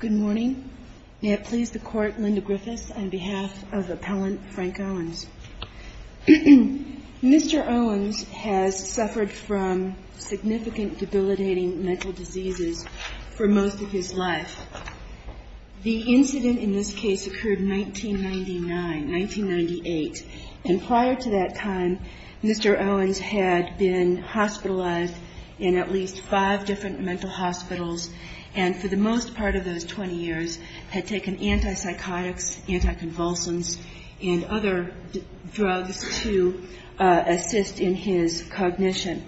Good morning. May it please the Court, Linda Griffiths, on behalf of Appellant Frank Owens. Mr. Owens has suffered from significant debilitating mental diseases for most of his life. The incident in this case occurred 1999, 1998, and prior to that time Mr. Owens had been hospitalized in at least five different mental hospitals and for the most part of those 20 years had taken antipsychotics, anticonvulsants, and other drugs to assist in his cognition.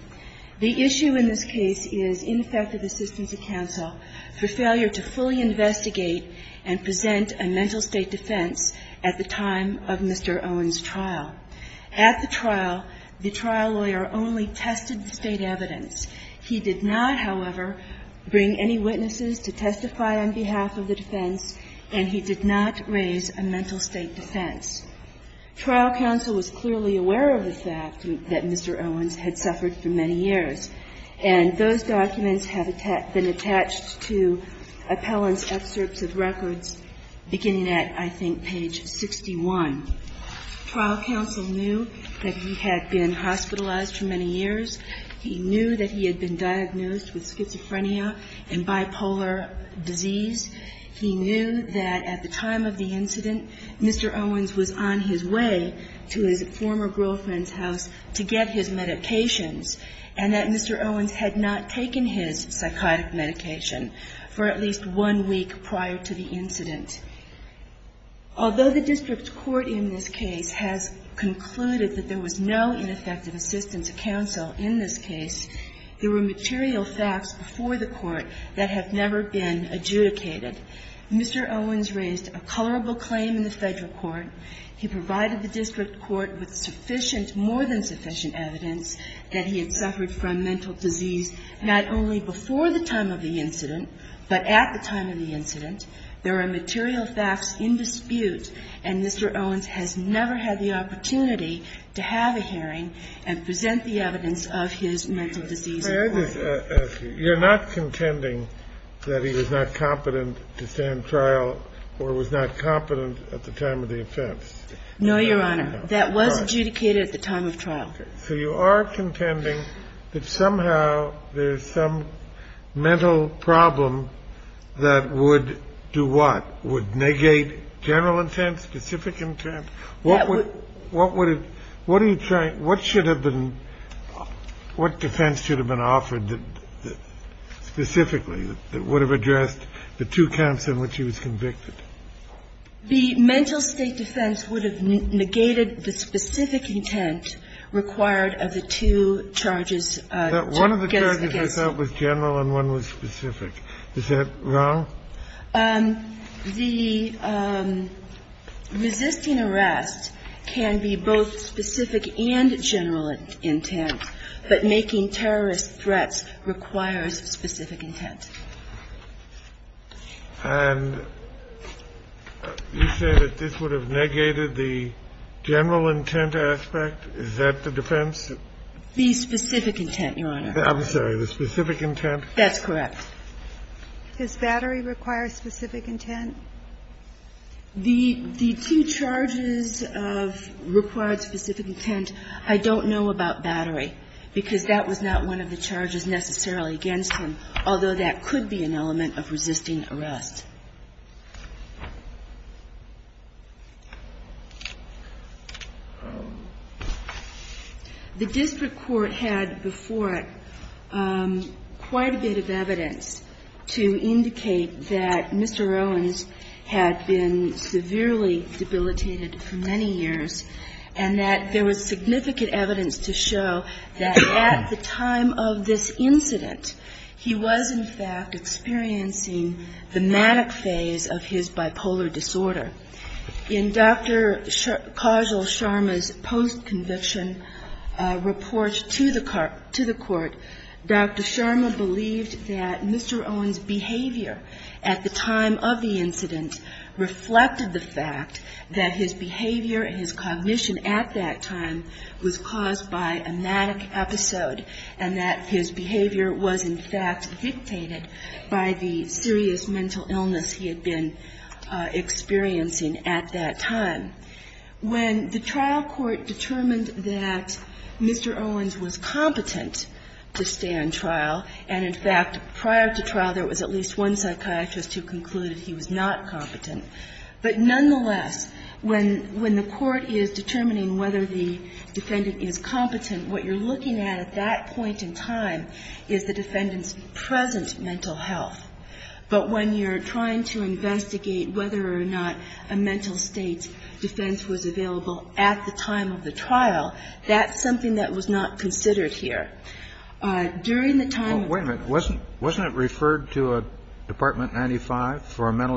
The issue in this case is ineffective assistance of counsel for failure to fully investigate and present a mental state defense at the time of Mr. Owens' trial. At the trial, the trial lawyer only tested the state evidence. He did not, however, bring any witnesses to testify on behalf of the defense, and he did not raise a mental state defense. Trial counsel was clearly aware of the fact that Mr. Owens had suffered for many years, and those documents have been attached to Appellant's excerpts of records beginning at, I think, page 61. Trial counsel knew that he had been hospitalized for many years. He knew that he had been diagnosed with schizophrenia and bipolar disease. He knew that at the time of the incident, Mr. Owens was on his way to his former girlfriend's house to get his medications and that Mr. Owens had not taken his psychotic medication for at least one week prior to the incident. Although the district court in this case has concluded that there was no ineffective assistance of counsel in this case, there were material facts before the court that have never been adjudicated. Mr. Owens raised a colorable claim in the federal court. He provided the district court with sufficient, more than sufficient evidence that he had suffered from mental disease, not only before the time of the incident, but at the time of the incident. There are material facts in dispute, and Mr. Owens has never had the opportunity to have a hearing and present the evidence of his mental disease complaint. You're not contending that he was not competent to stand trial or was not competent at the time of the offense? No, Your Honor. That was adjudicated at the time of trial. Okay. So you are contending that somehow there's some mental problem that would do what? Would negate general intent, specific intent? What would it – what are you trying – what should have been – what defense should have been offered specifically that would have addressed the two counts in which he was convicted? The mental state defense would have negated the specific intent required of the two charges against him. But one of the charges I thought was general and one was specific. Is that wrong? The resisting arrest can be both specific and general intent, but making terrorist threats requires specific intent. And you say that this would have negated the general intent aspect? Is that the defense? The specific intent, Your Honor. I'm sorry. The specific intent? That's correct. Does battery require specific intent? The two charges of required specific intent, I don't know about battery, because that was not one of the charges necessarily against him, although that could be an element of resisting arrest. The district court had before it quite a bit of evidence to indicate that Mr. Owens had been severely debilitated for many years and that there was significant evidence to show that at the time of this incident, he was in fact experiencing the manic phase of his bipolar disorder. In Dr. Kajal Sharma's post-conviction report to the court, Dr. Sharma believed that Mr. Owens' behavior at the time of the incident reflected the fact that his behavior and his cognition at that time was caused by a manic episode and that his behavior was in fact dictated by the serious mental illness he had been experiencing at that time. When the trial court determined that Mr. Owens was competent to stand trial, and in fact, prior to trial there was at least one psychiatrist who concluded he was not competent, but nonetheless, when the court is determining whether the defendant is competent, what you're looking at at that point in time is the defendant's present mental health. But when you're trying to investigate whether or not a mental state defense was available at the time of the trial, that's something that was not considered here. During the time of the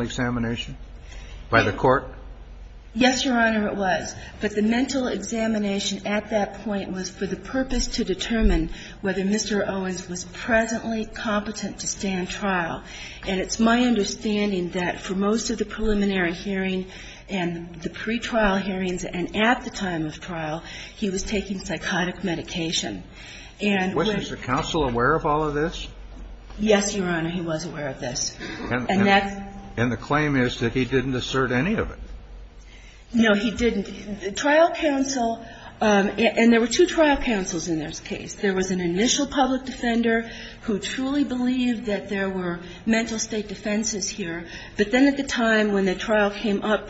trial ---- Yes, Your Honor, it was. But the mental examination at that point was for the purpose to determine whether Mr. Owens was presently competent to stand trial. And it's my understanding that for most of the preliminary hearing and the pretrial hearings and at the time of trial, he was taking psychotic medication. And when ---- Was the counsel aware of all of this? Yes, Your Honor, he was aware of this. And that's ---- And the claim is that he didn't assert any of it. No, he didn't. The trial counsel ---- and there were two trial counsels in this case. There was an initial public defender who truly believed that there were mental state defenses here. But then at the time when the trial came up,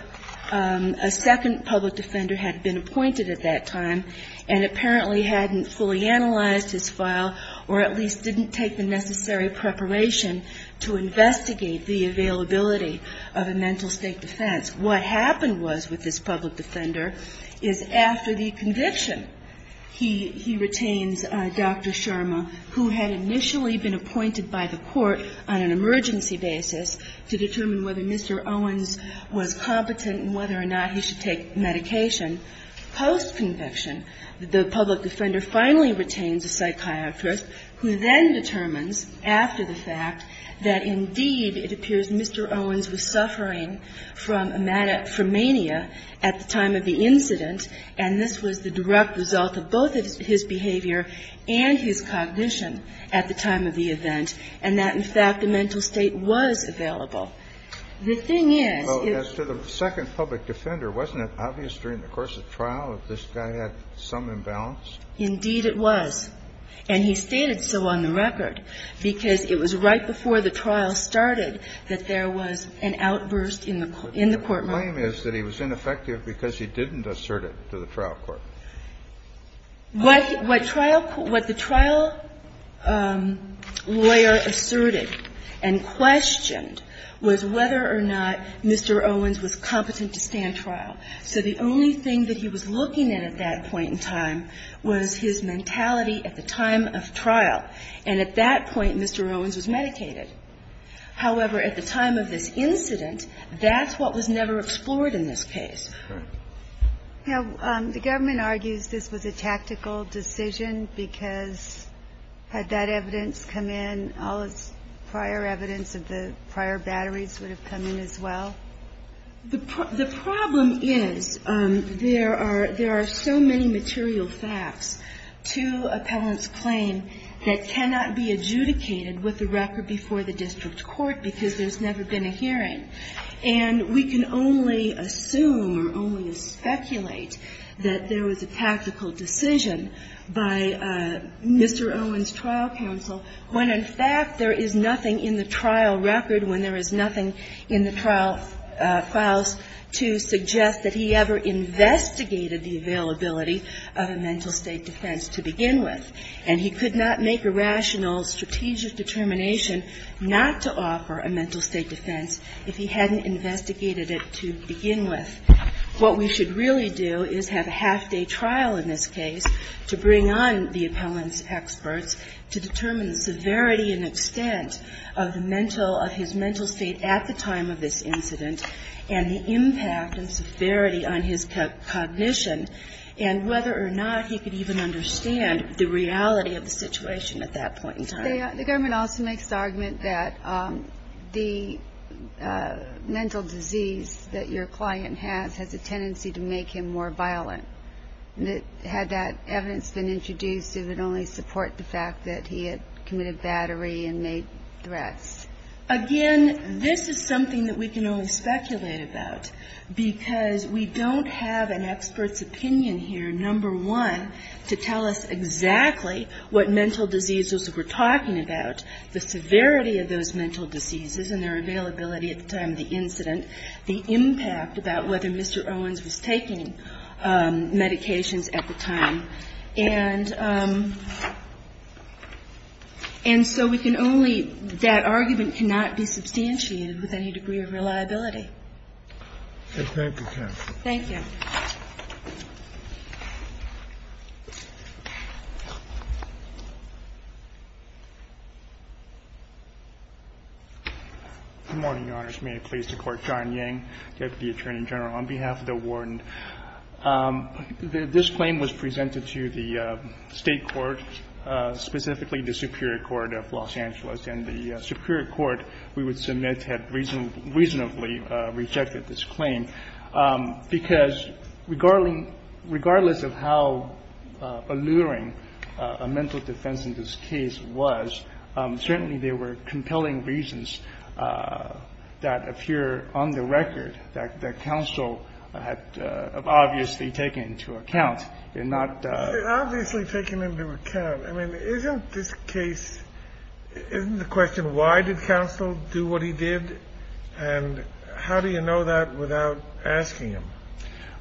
a second public defender had been appointed at that time and apparently hadn't fully analyzed his file or at least didn't take the necessary preparation to investigate the availability of a mental state defense. What happened was with this public defender is after the conviction, he retains Dr. Sherma, who had initially been appointed by the court on an emergency basis to determine whether Mr. Owens was competent and whether or not he should take psychiatrist, who then determines after the fact that indeed it appears Mr. Owens was suffering from a mania at the time of the incident, and this was the direct result of both his behavior and his cognition at the time of the event, and that in fact the mental state was available. The thing is ---- Well, as to the second public defender, wasn't it obvious during the course of trial that this guy had some imbalance? Indeed it was. And he stated so on the record because it was right before the trial started that there was an outburst in the court room. But the claim is that he was ineffective because he didn't assert it to the trial court. What the trial lawyer asserted and questioned was whether or not Mr. Owens was competent to stand trial. So the only thing that he was looking at at that point in time was his mentality at the time of trial. And at that point, Mr. Owens was medicated. However, at the time of this incident, that's what was never explored in this case. Now, the government argues this was a tactical decision because had that evidence come in, all this prior evidence of the prior batteries would have come in as well? The problem is there are so many material facts to appellant's claim that cannot be adjudicated with the record before the district court because there's never been a hearing. And we can only assume or only speculate that there was a tactical decision by Mr. Owens' trial counsel when, in fact, there is nothing in the trial record, when there is nothing in the trial files to suggest that he ever investigated the availability of a mental state defense to begin with. And he could not make a rational, strategic determination not to offer a mental state defense if he hadn't investigated it to begin with. What we should really do is have a half-day trial in this case to bring on the appellant's experts to determine the severity and extent of his mental state at the time of this incident and the impact and severity on his cognition and whether or not he could even understand the reality of the situation at that point in time. The government also makes the argument that the mental disease that your client has has a tendency to make him more violent. Had that evidence been introduced, it would only support the fact that he had committed battery and made threats. Again, this is something that we can only speculate about because we don't have an expert's opinion here, number one, to tell us exactly what mental diseases we're talking about, the severity of those mental diseases and their availability at the time of the incident, the impact about whether Mr. Owens was taking medications at the time. And so we can only – that argument cannot be substantiated with any degree of reliability. Thank you, counsel. Thank you. Good morning, Your Honors. May it please the Court. John Yang, Deputy Attorney General. On behalf of the Warden, this claim was presented to the State court, specifically the Superior Court of Los Angeles, and the Superior Court we would submit had reasonably rejected this claim because regardless of how alluring a mental defense in this case was, certainly there were compelling reasons that appear on the record that counsel had obviously taken into account and not – Obviously taken into account. I mean, isn't this case – isn't the question why did counsel do what he did, and how do you know that without asking him?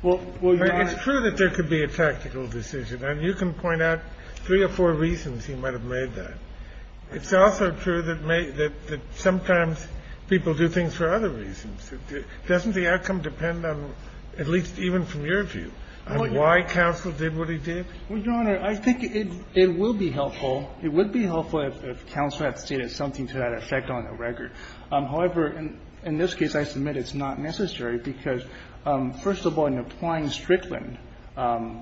Well, Your Honor – It's true that there could be a tactical decision, and you can point out three or four reasons he might have made that. It's also true that sometimes people do things for other reasons. Doesn't the outcome depend on – at least even from your view – on why counsel did what he did? Well, Your Honor, I think it will be helpful – it would be helpful if counsel had stated something to that effect on the record. However, in this case, I submit it's not necessary because, first of all, in applying Strickland,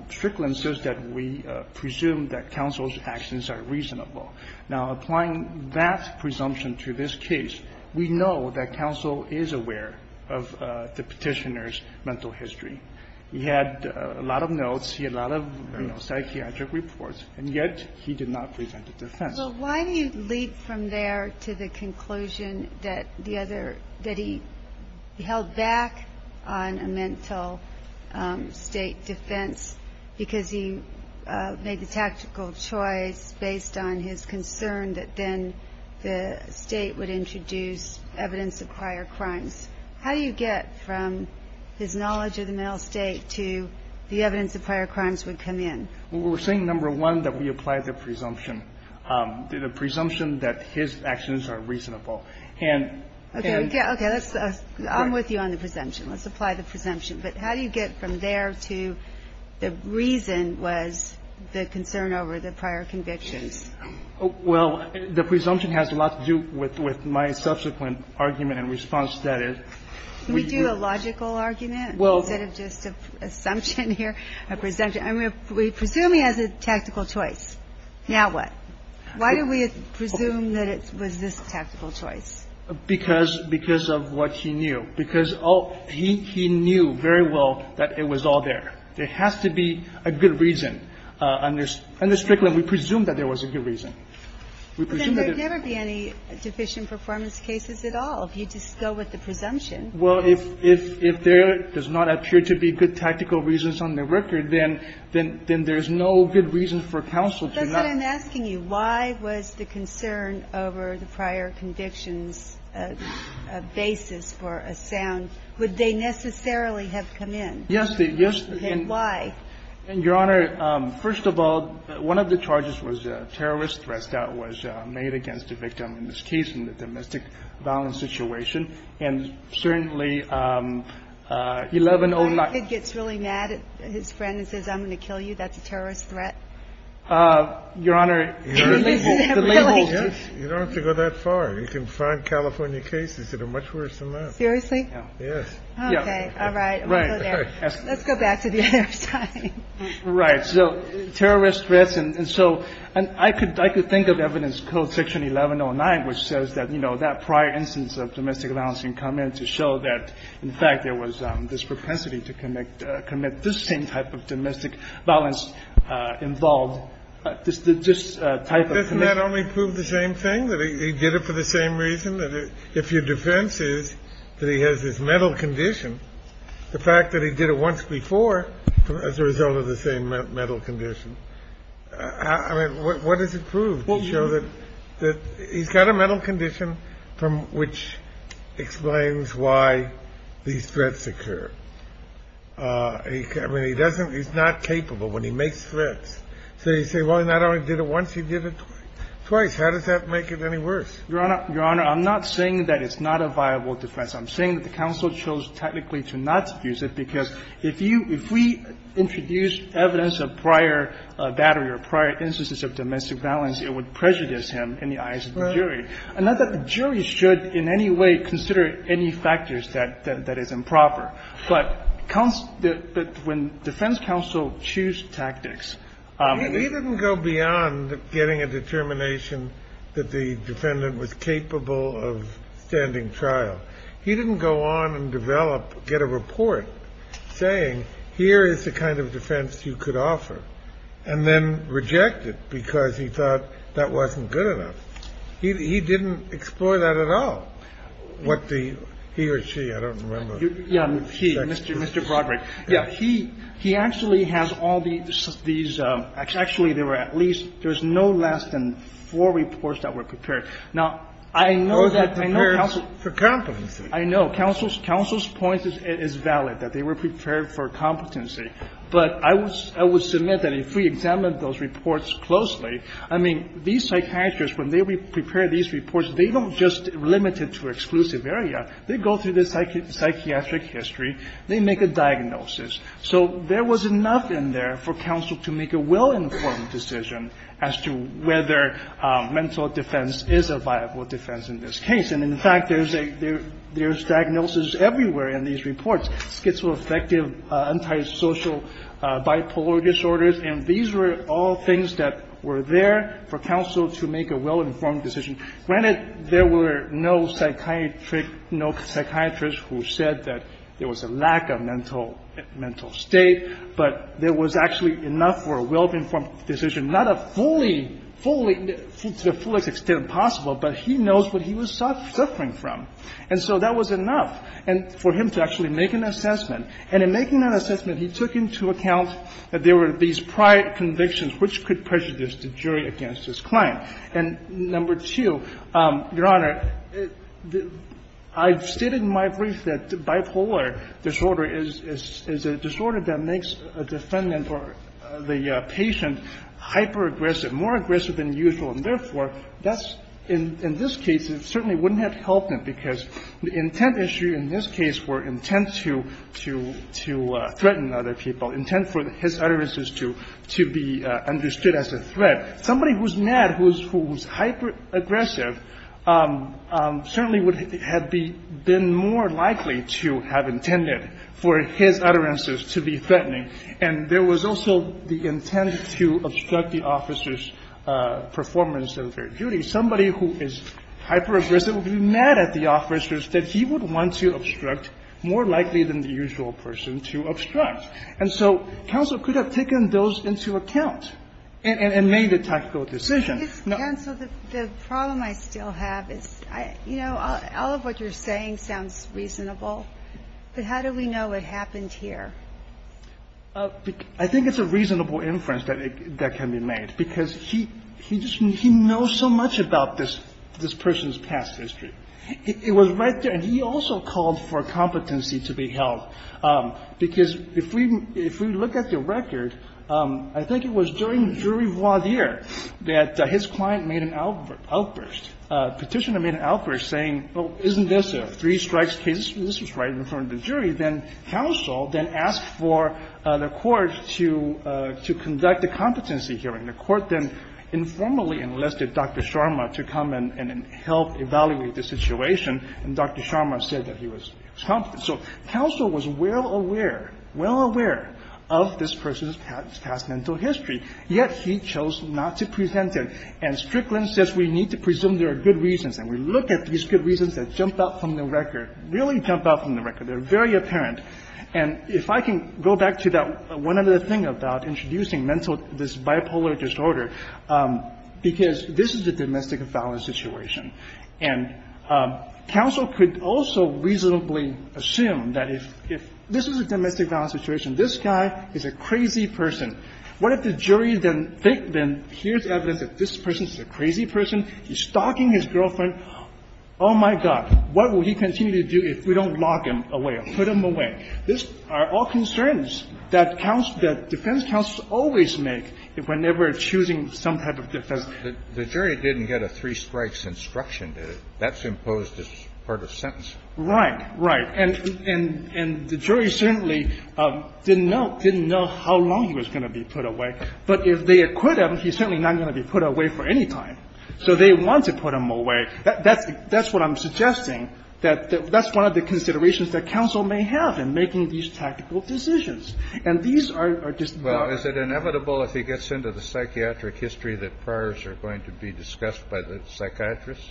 Strickland says that we presume that counsel's actions are reasonable. Now, applying that presumption to this case, we know that counsel is aware of the Petitioner's mental history. He had a lot of notes. He had a lot of, you know, psychiatric reports. And yet he did not present a defense. So why do you leap from there to the conclusion that the other – that he held back on a mental state defense because he made the tactical choice based on his concern that then the State would introduce evidence of prior crimes? How do you get from his knowledge of the mental state to the evidence of prior crimes would come in? Well, we're saying, number one, that we apply the presumption – the presumption that his actions are reasonable. Okay. I'm with you on the presumption. Let's apply the presumption. But how do you get from there to the reason was the concern over the prior convictions? Well, the presumption has a lot to do with my subsequent argument and response to that. Can we do a logical argument instead of just an assumption here, a presumption? I mean, we presume he has a tactical choice. Now what? Why do we presume that it was this tactical choice? Because of what he knew. Because he knew very well that it was all there. There has to be a good reason. Under Strickland, we presume that there was a good reason. We presume that it – But then there would never be any deficient performance cases at all if you just go with the presumption. Well, if there does not appear to be good tactical reasons on the record, then there's no good reason for counsel to not – That's what I'm asking you. Why was the concern over the prior convictions a basis for a sound? Would they necessarily have come in? Yes, they – yes. Then why? Your Honor, first of all, one of the charges was a terrorist threat that was made against the victim in this case in the domestic violence situation. And certainly 1109 – So the kid gets really mad at his friend and says, I'm going to kill you? That's a terrorist threat? Your Honor, the label – Yes. You don't have to go that far. You can find California cases that are much worse than that. Seriously? Yes. Okay. All right. Let's go there. Let's go back to the other side. Right. So terrorist threats. And so I could think of evidence code section 1109, which says that, you know, that prior instance of domestic violence can come in to show that, in fact, there was this propensity to commit this same type of domestic violence involved, this type of conviction. Doesn't that only prove the same thing, that he did it for the same reason, that if your defense is that he has this mental condition, the fact that he did it once before as a result of the same mental condition? I mean, what does it prove to show that he's got a mental condition from which explains why these threats occur? I mean, he doesn't – he's not capable when he makes threats. So you say, well, he not only did it once, he did it twice. How does that make it any worse? Your Honor, I'm not saying that it's not a viable defense. I'm saying that the counsel chose technically to not defuse it, because if you – if we introduced evidence of prior battery or prior instances of domestic violence, it would prejudice him in the eyes of the jury. And not that the jury should in any way consider any factors that is improper. But when defense counsel choose tactics – But beyond getting a determination that the defendant was capable of standing trial, he didn't go on and develop, get a report saying, here is the kind of defense you could offer and then reject it, because he thought that wasn't good enough. He didn't explore that at all. What the – he or she, I don't remember. Yeah. He, Mr. Broderick. Yeah. But he – he actually has all these – actually, there were at least – there was no less than four reports that were prepared. Now, I know that counsel – For competency. I know. Counsel's point is valid, that they were prepared for competency. But I would submit that if we examined those reports closely, I mean, these psychiatrists, when they prepare these reports, they don't just limit it to exclusive area. They go through the psychiatric history. They make a diagnosis. So there was enough in there for counsel to make a well-informed decision as to whether mental defense is a viable defense in this case. And, in fact, there's a – there's diagnosis everywhere in these reports, schizoaffective, antisocial, bipolar disorders. And these were all things that were there for counsel to make a well-informed decision. Granted, there were no psychiatric – no psychiatrists who said that there was a lack of mental – mental state, but there was actually enough for a well-informed decision, not a fully – fully – to the fullest extent possible, but he knows what he was suffering from. And so that was enough for him to actually make an assessment. And in making that assessment, he took into account that there were these prior convictions which could prejudice the jury against his client. And, number two, Your Honor, I've stated in my brief that bipolar disorder is a disorder that makes a defendant or the patient hyperaggressive, more aggressive than usual. And, therefore, that's – in this case, it certainly wouldn't have helped him because the intent issue in this case were intent to – to threaten other people, intent for his utterances to be understood as a threat. Somebody who's mad, who's hyperaggressive, certainly would have been more likely to have intended for his utterances to be threatening. And there was also the intent to obstruct the officer's performance of their duty. Somebody who is hyperaggressive would be mad at the officers that he would want to obstruct more likely than the usual person to obstruct. And so counsel could have taken those into account and made a tactical decision. Ginsburg-McGill. Counsel, the problem I still have is, you know, all of what you're saying sounds reasonable. But how do we know what happened here? Verrilli, Jr. I think it's a reasonable inference that can be made because he – he just – he knows so much about this – this person's past history. It was right there. And he also called for competency to be held, because if we – if we look at the record, I think it was during jury voir dire that his client made an outburst – petitioner made an outburst saying, well, isn't this a three-strikes case? This is right in front of the jury. Then counsel then asked for the court to – to conduct a competency hearing. The court then informally enlisted Dr. Sharma to come and help evaluate the situation. And Dr. Sharma said that he was competent. So counsel was well aware – well aware of this person's past mental history, yet he chose not to present it. And Strickland says we need to presume there are good reasons. And we look at these good reasons that jumped out from the record – really jumped out from the record. They're very apparent. And if I can go back to that – one other thing about introducing mental – this bipolar disorder, because this is a domestic violence situation. And counsel could also reasonably assume that if – if this is a domestic violence situation, this guy is a crazy person. What if the jury then – then hears evidence that this person is a crazy person? He's stalking his girlfriend. Oh, my God. What will he continue to do if we don't lock him away or put him away? These are all concerns that counsel – that defense counsels always make whenever choosing some type of defense. The jury didn't get a three-strikes instruction. That's imposed as part of sentencing. Right. Right. And the jury certainly didn't know – didn't know how long he was going to be put away. But if they acquit him, he's certainly not going to be put away for any time. So they want to put him away. That's what I'm suggesting, that that's one of the considerations that counsel may have in making these tactical decisions. And these are just – Well, is it inevitable if he gets into the psychiatric history that priors are going to be discussed by the psychiatrist?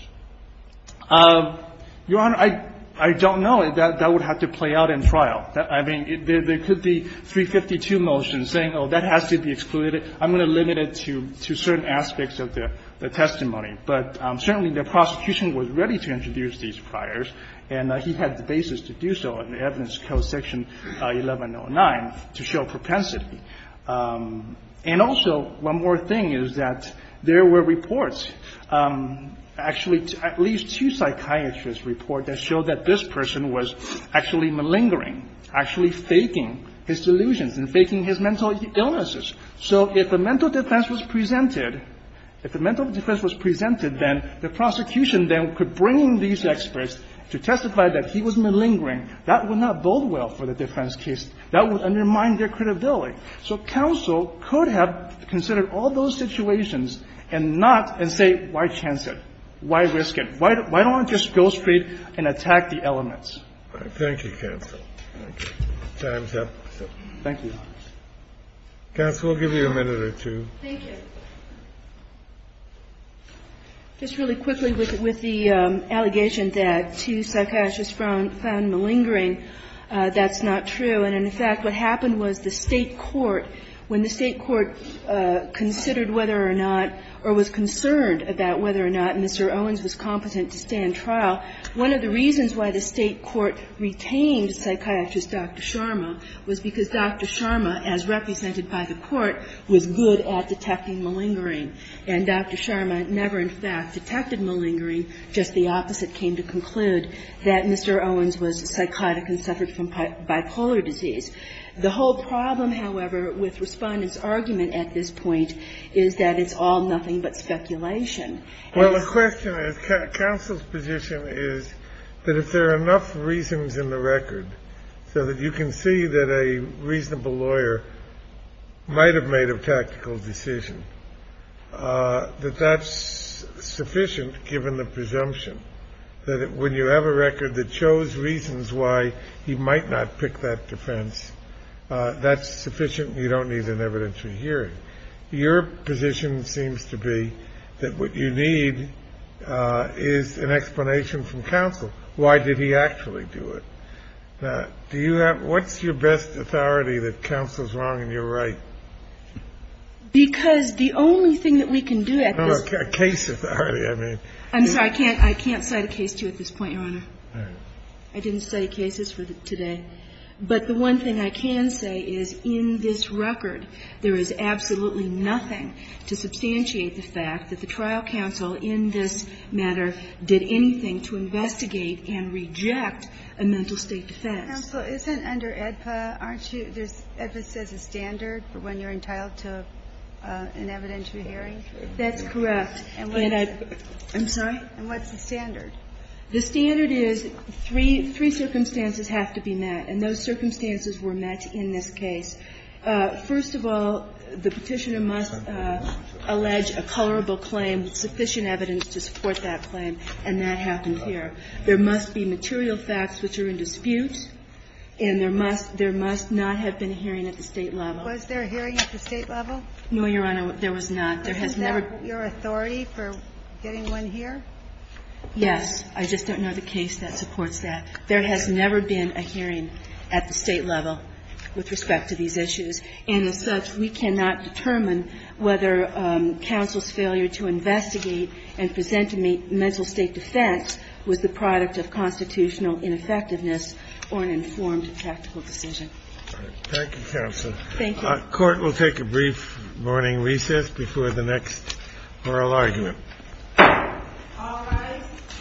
Your Honor, I don't know. That would have to play out in trial. I mean, there could be 352 motions saying, oh, that has to be excluded. I'm going to limit it to certain aspects of the testimony. But certainly the prosecution was ready to introduce these priors, and he had the basis to do so in the evidence code section 1109 to show propensity. And also, one more thing is that there were reports, actually at least two psychiatrists report that showed that this person was actually malingering, actually faking his delusions and faking his mental illnesses. So if a mental defense was presented – if a mental defense was presented, then the prosecution then could bring in these experts to testify that he was malingering. That would not bode well for the defense case. That would undermine their credibility. So counsel could have considered all those situations and not – and say, why chance it? Why risk it? Why don't we just go straight and attack the elements? Thank you, counsel. Time's up. Thank you. Counsel, we'll give you a minute or two. Thank you. Just really quickly with the allegation that two psychiatrists found malingering, that's not true. And in fact, what happened was the State court, when the State court considered whether or not or was concerned about whether or not Mr. Owens was competent to stand trial, one of the reasons why the State court retained psychiatrist Dr. Sharma was because Dr. Sharma, as represented by the court, was good at detecting malingering. And Dr. Sharma never in fact detected malingering. Just the opposite came to conclude that Mr. Owens was psychotic and suffered from bipolar disease. The whole problem, however, with Respondent's argument at this point is that it's all nothing but speculation. Well, the question is, counsel's position is that if there are enough reasons in the record so that you can see that a reasonable lawyer might have made a tactical decision, that that's sufficient given the presumption, that when you have a record that shows reasons why he might not pick that defense, that's sufficient and you don't need an evidentiary hearing. Your position seems to be that what you need is an explanation from counsel. Why did he actually do it? Do you have – what's your best authority that counsel's wrong and you're right? Because the only thing that we can do at this point – No, no, case authority, I mean. I'm sorry. I can't cite a case to you at this point, Your Honor. All right. I didn't cite cases for today. But the one thing I can say is in this record, there is absolutely nothing to substantiate the fact that the trial counsel in this matter did anything to investigate and reject a mental state defense. Counsel, isn't under AEDPA, aren't you – there's – AEDPA says a standard for when you're entitled to an evidentiary hearing. That's correct. And what is it? I'm sorry? And what's the standard? The standard is three – three circumstances have to be met. And those circumstances were met in this case. First of all, the Petitioner must allege a colorable claim with sufficient evidence to support that claim, and that happened here. There must be material facts which are in dispute, and there must – there must not have been a hearing at the State level. Was there a hearing at the State level? No, Your Honor, there was not. There has never – Is that your authority for getting one here? Yes. I just don't know the case that supports that. There has never been a hearing at the State level with respect to these issues. And as such, we cannot determine whether counsel's failure to investigate and present a mental state defense was the product of constitutional ineffectiveness or an informed tactical decision. All right. Thank you, counsel. Thank you. Court will take a brief morning recess before the next oral argument. All rise.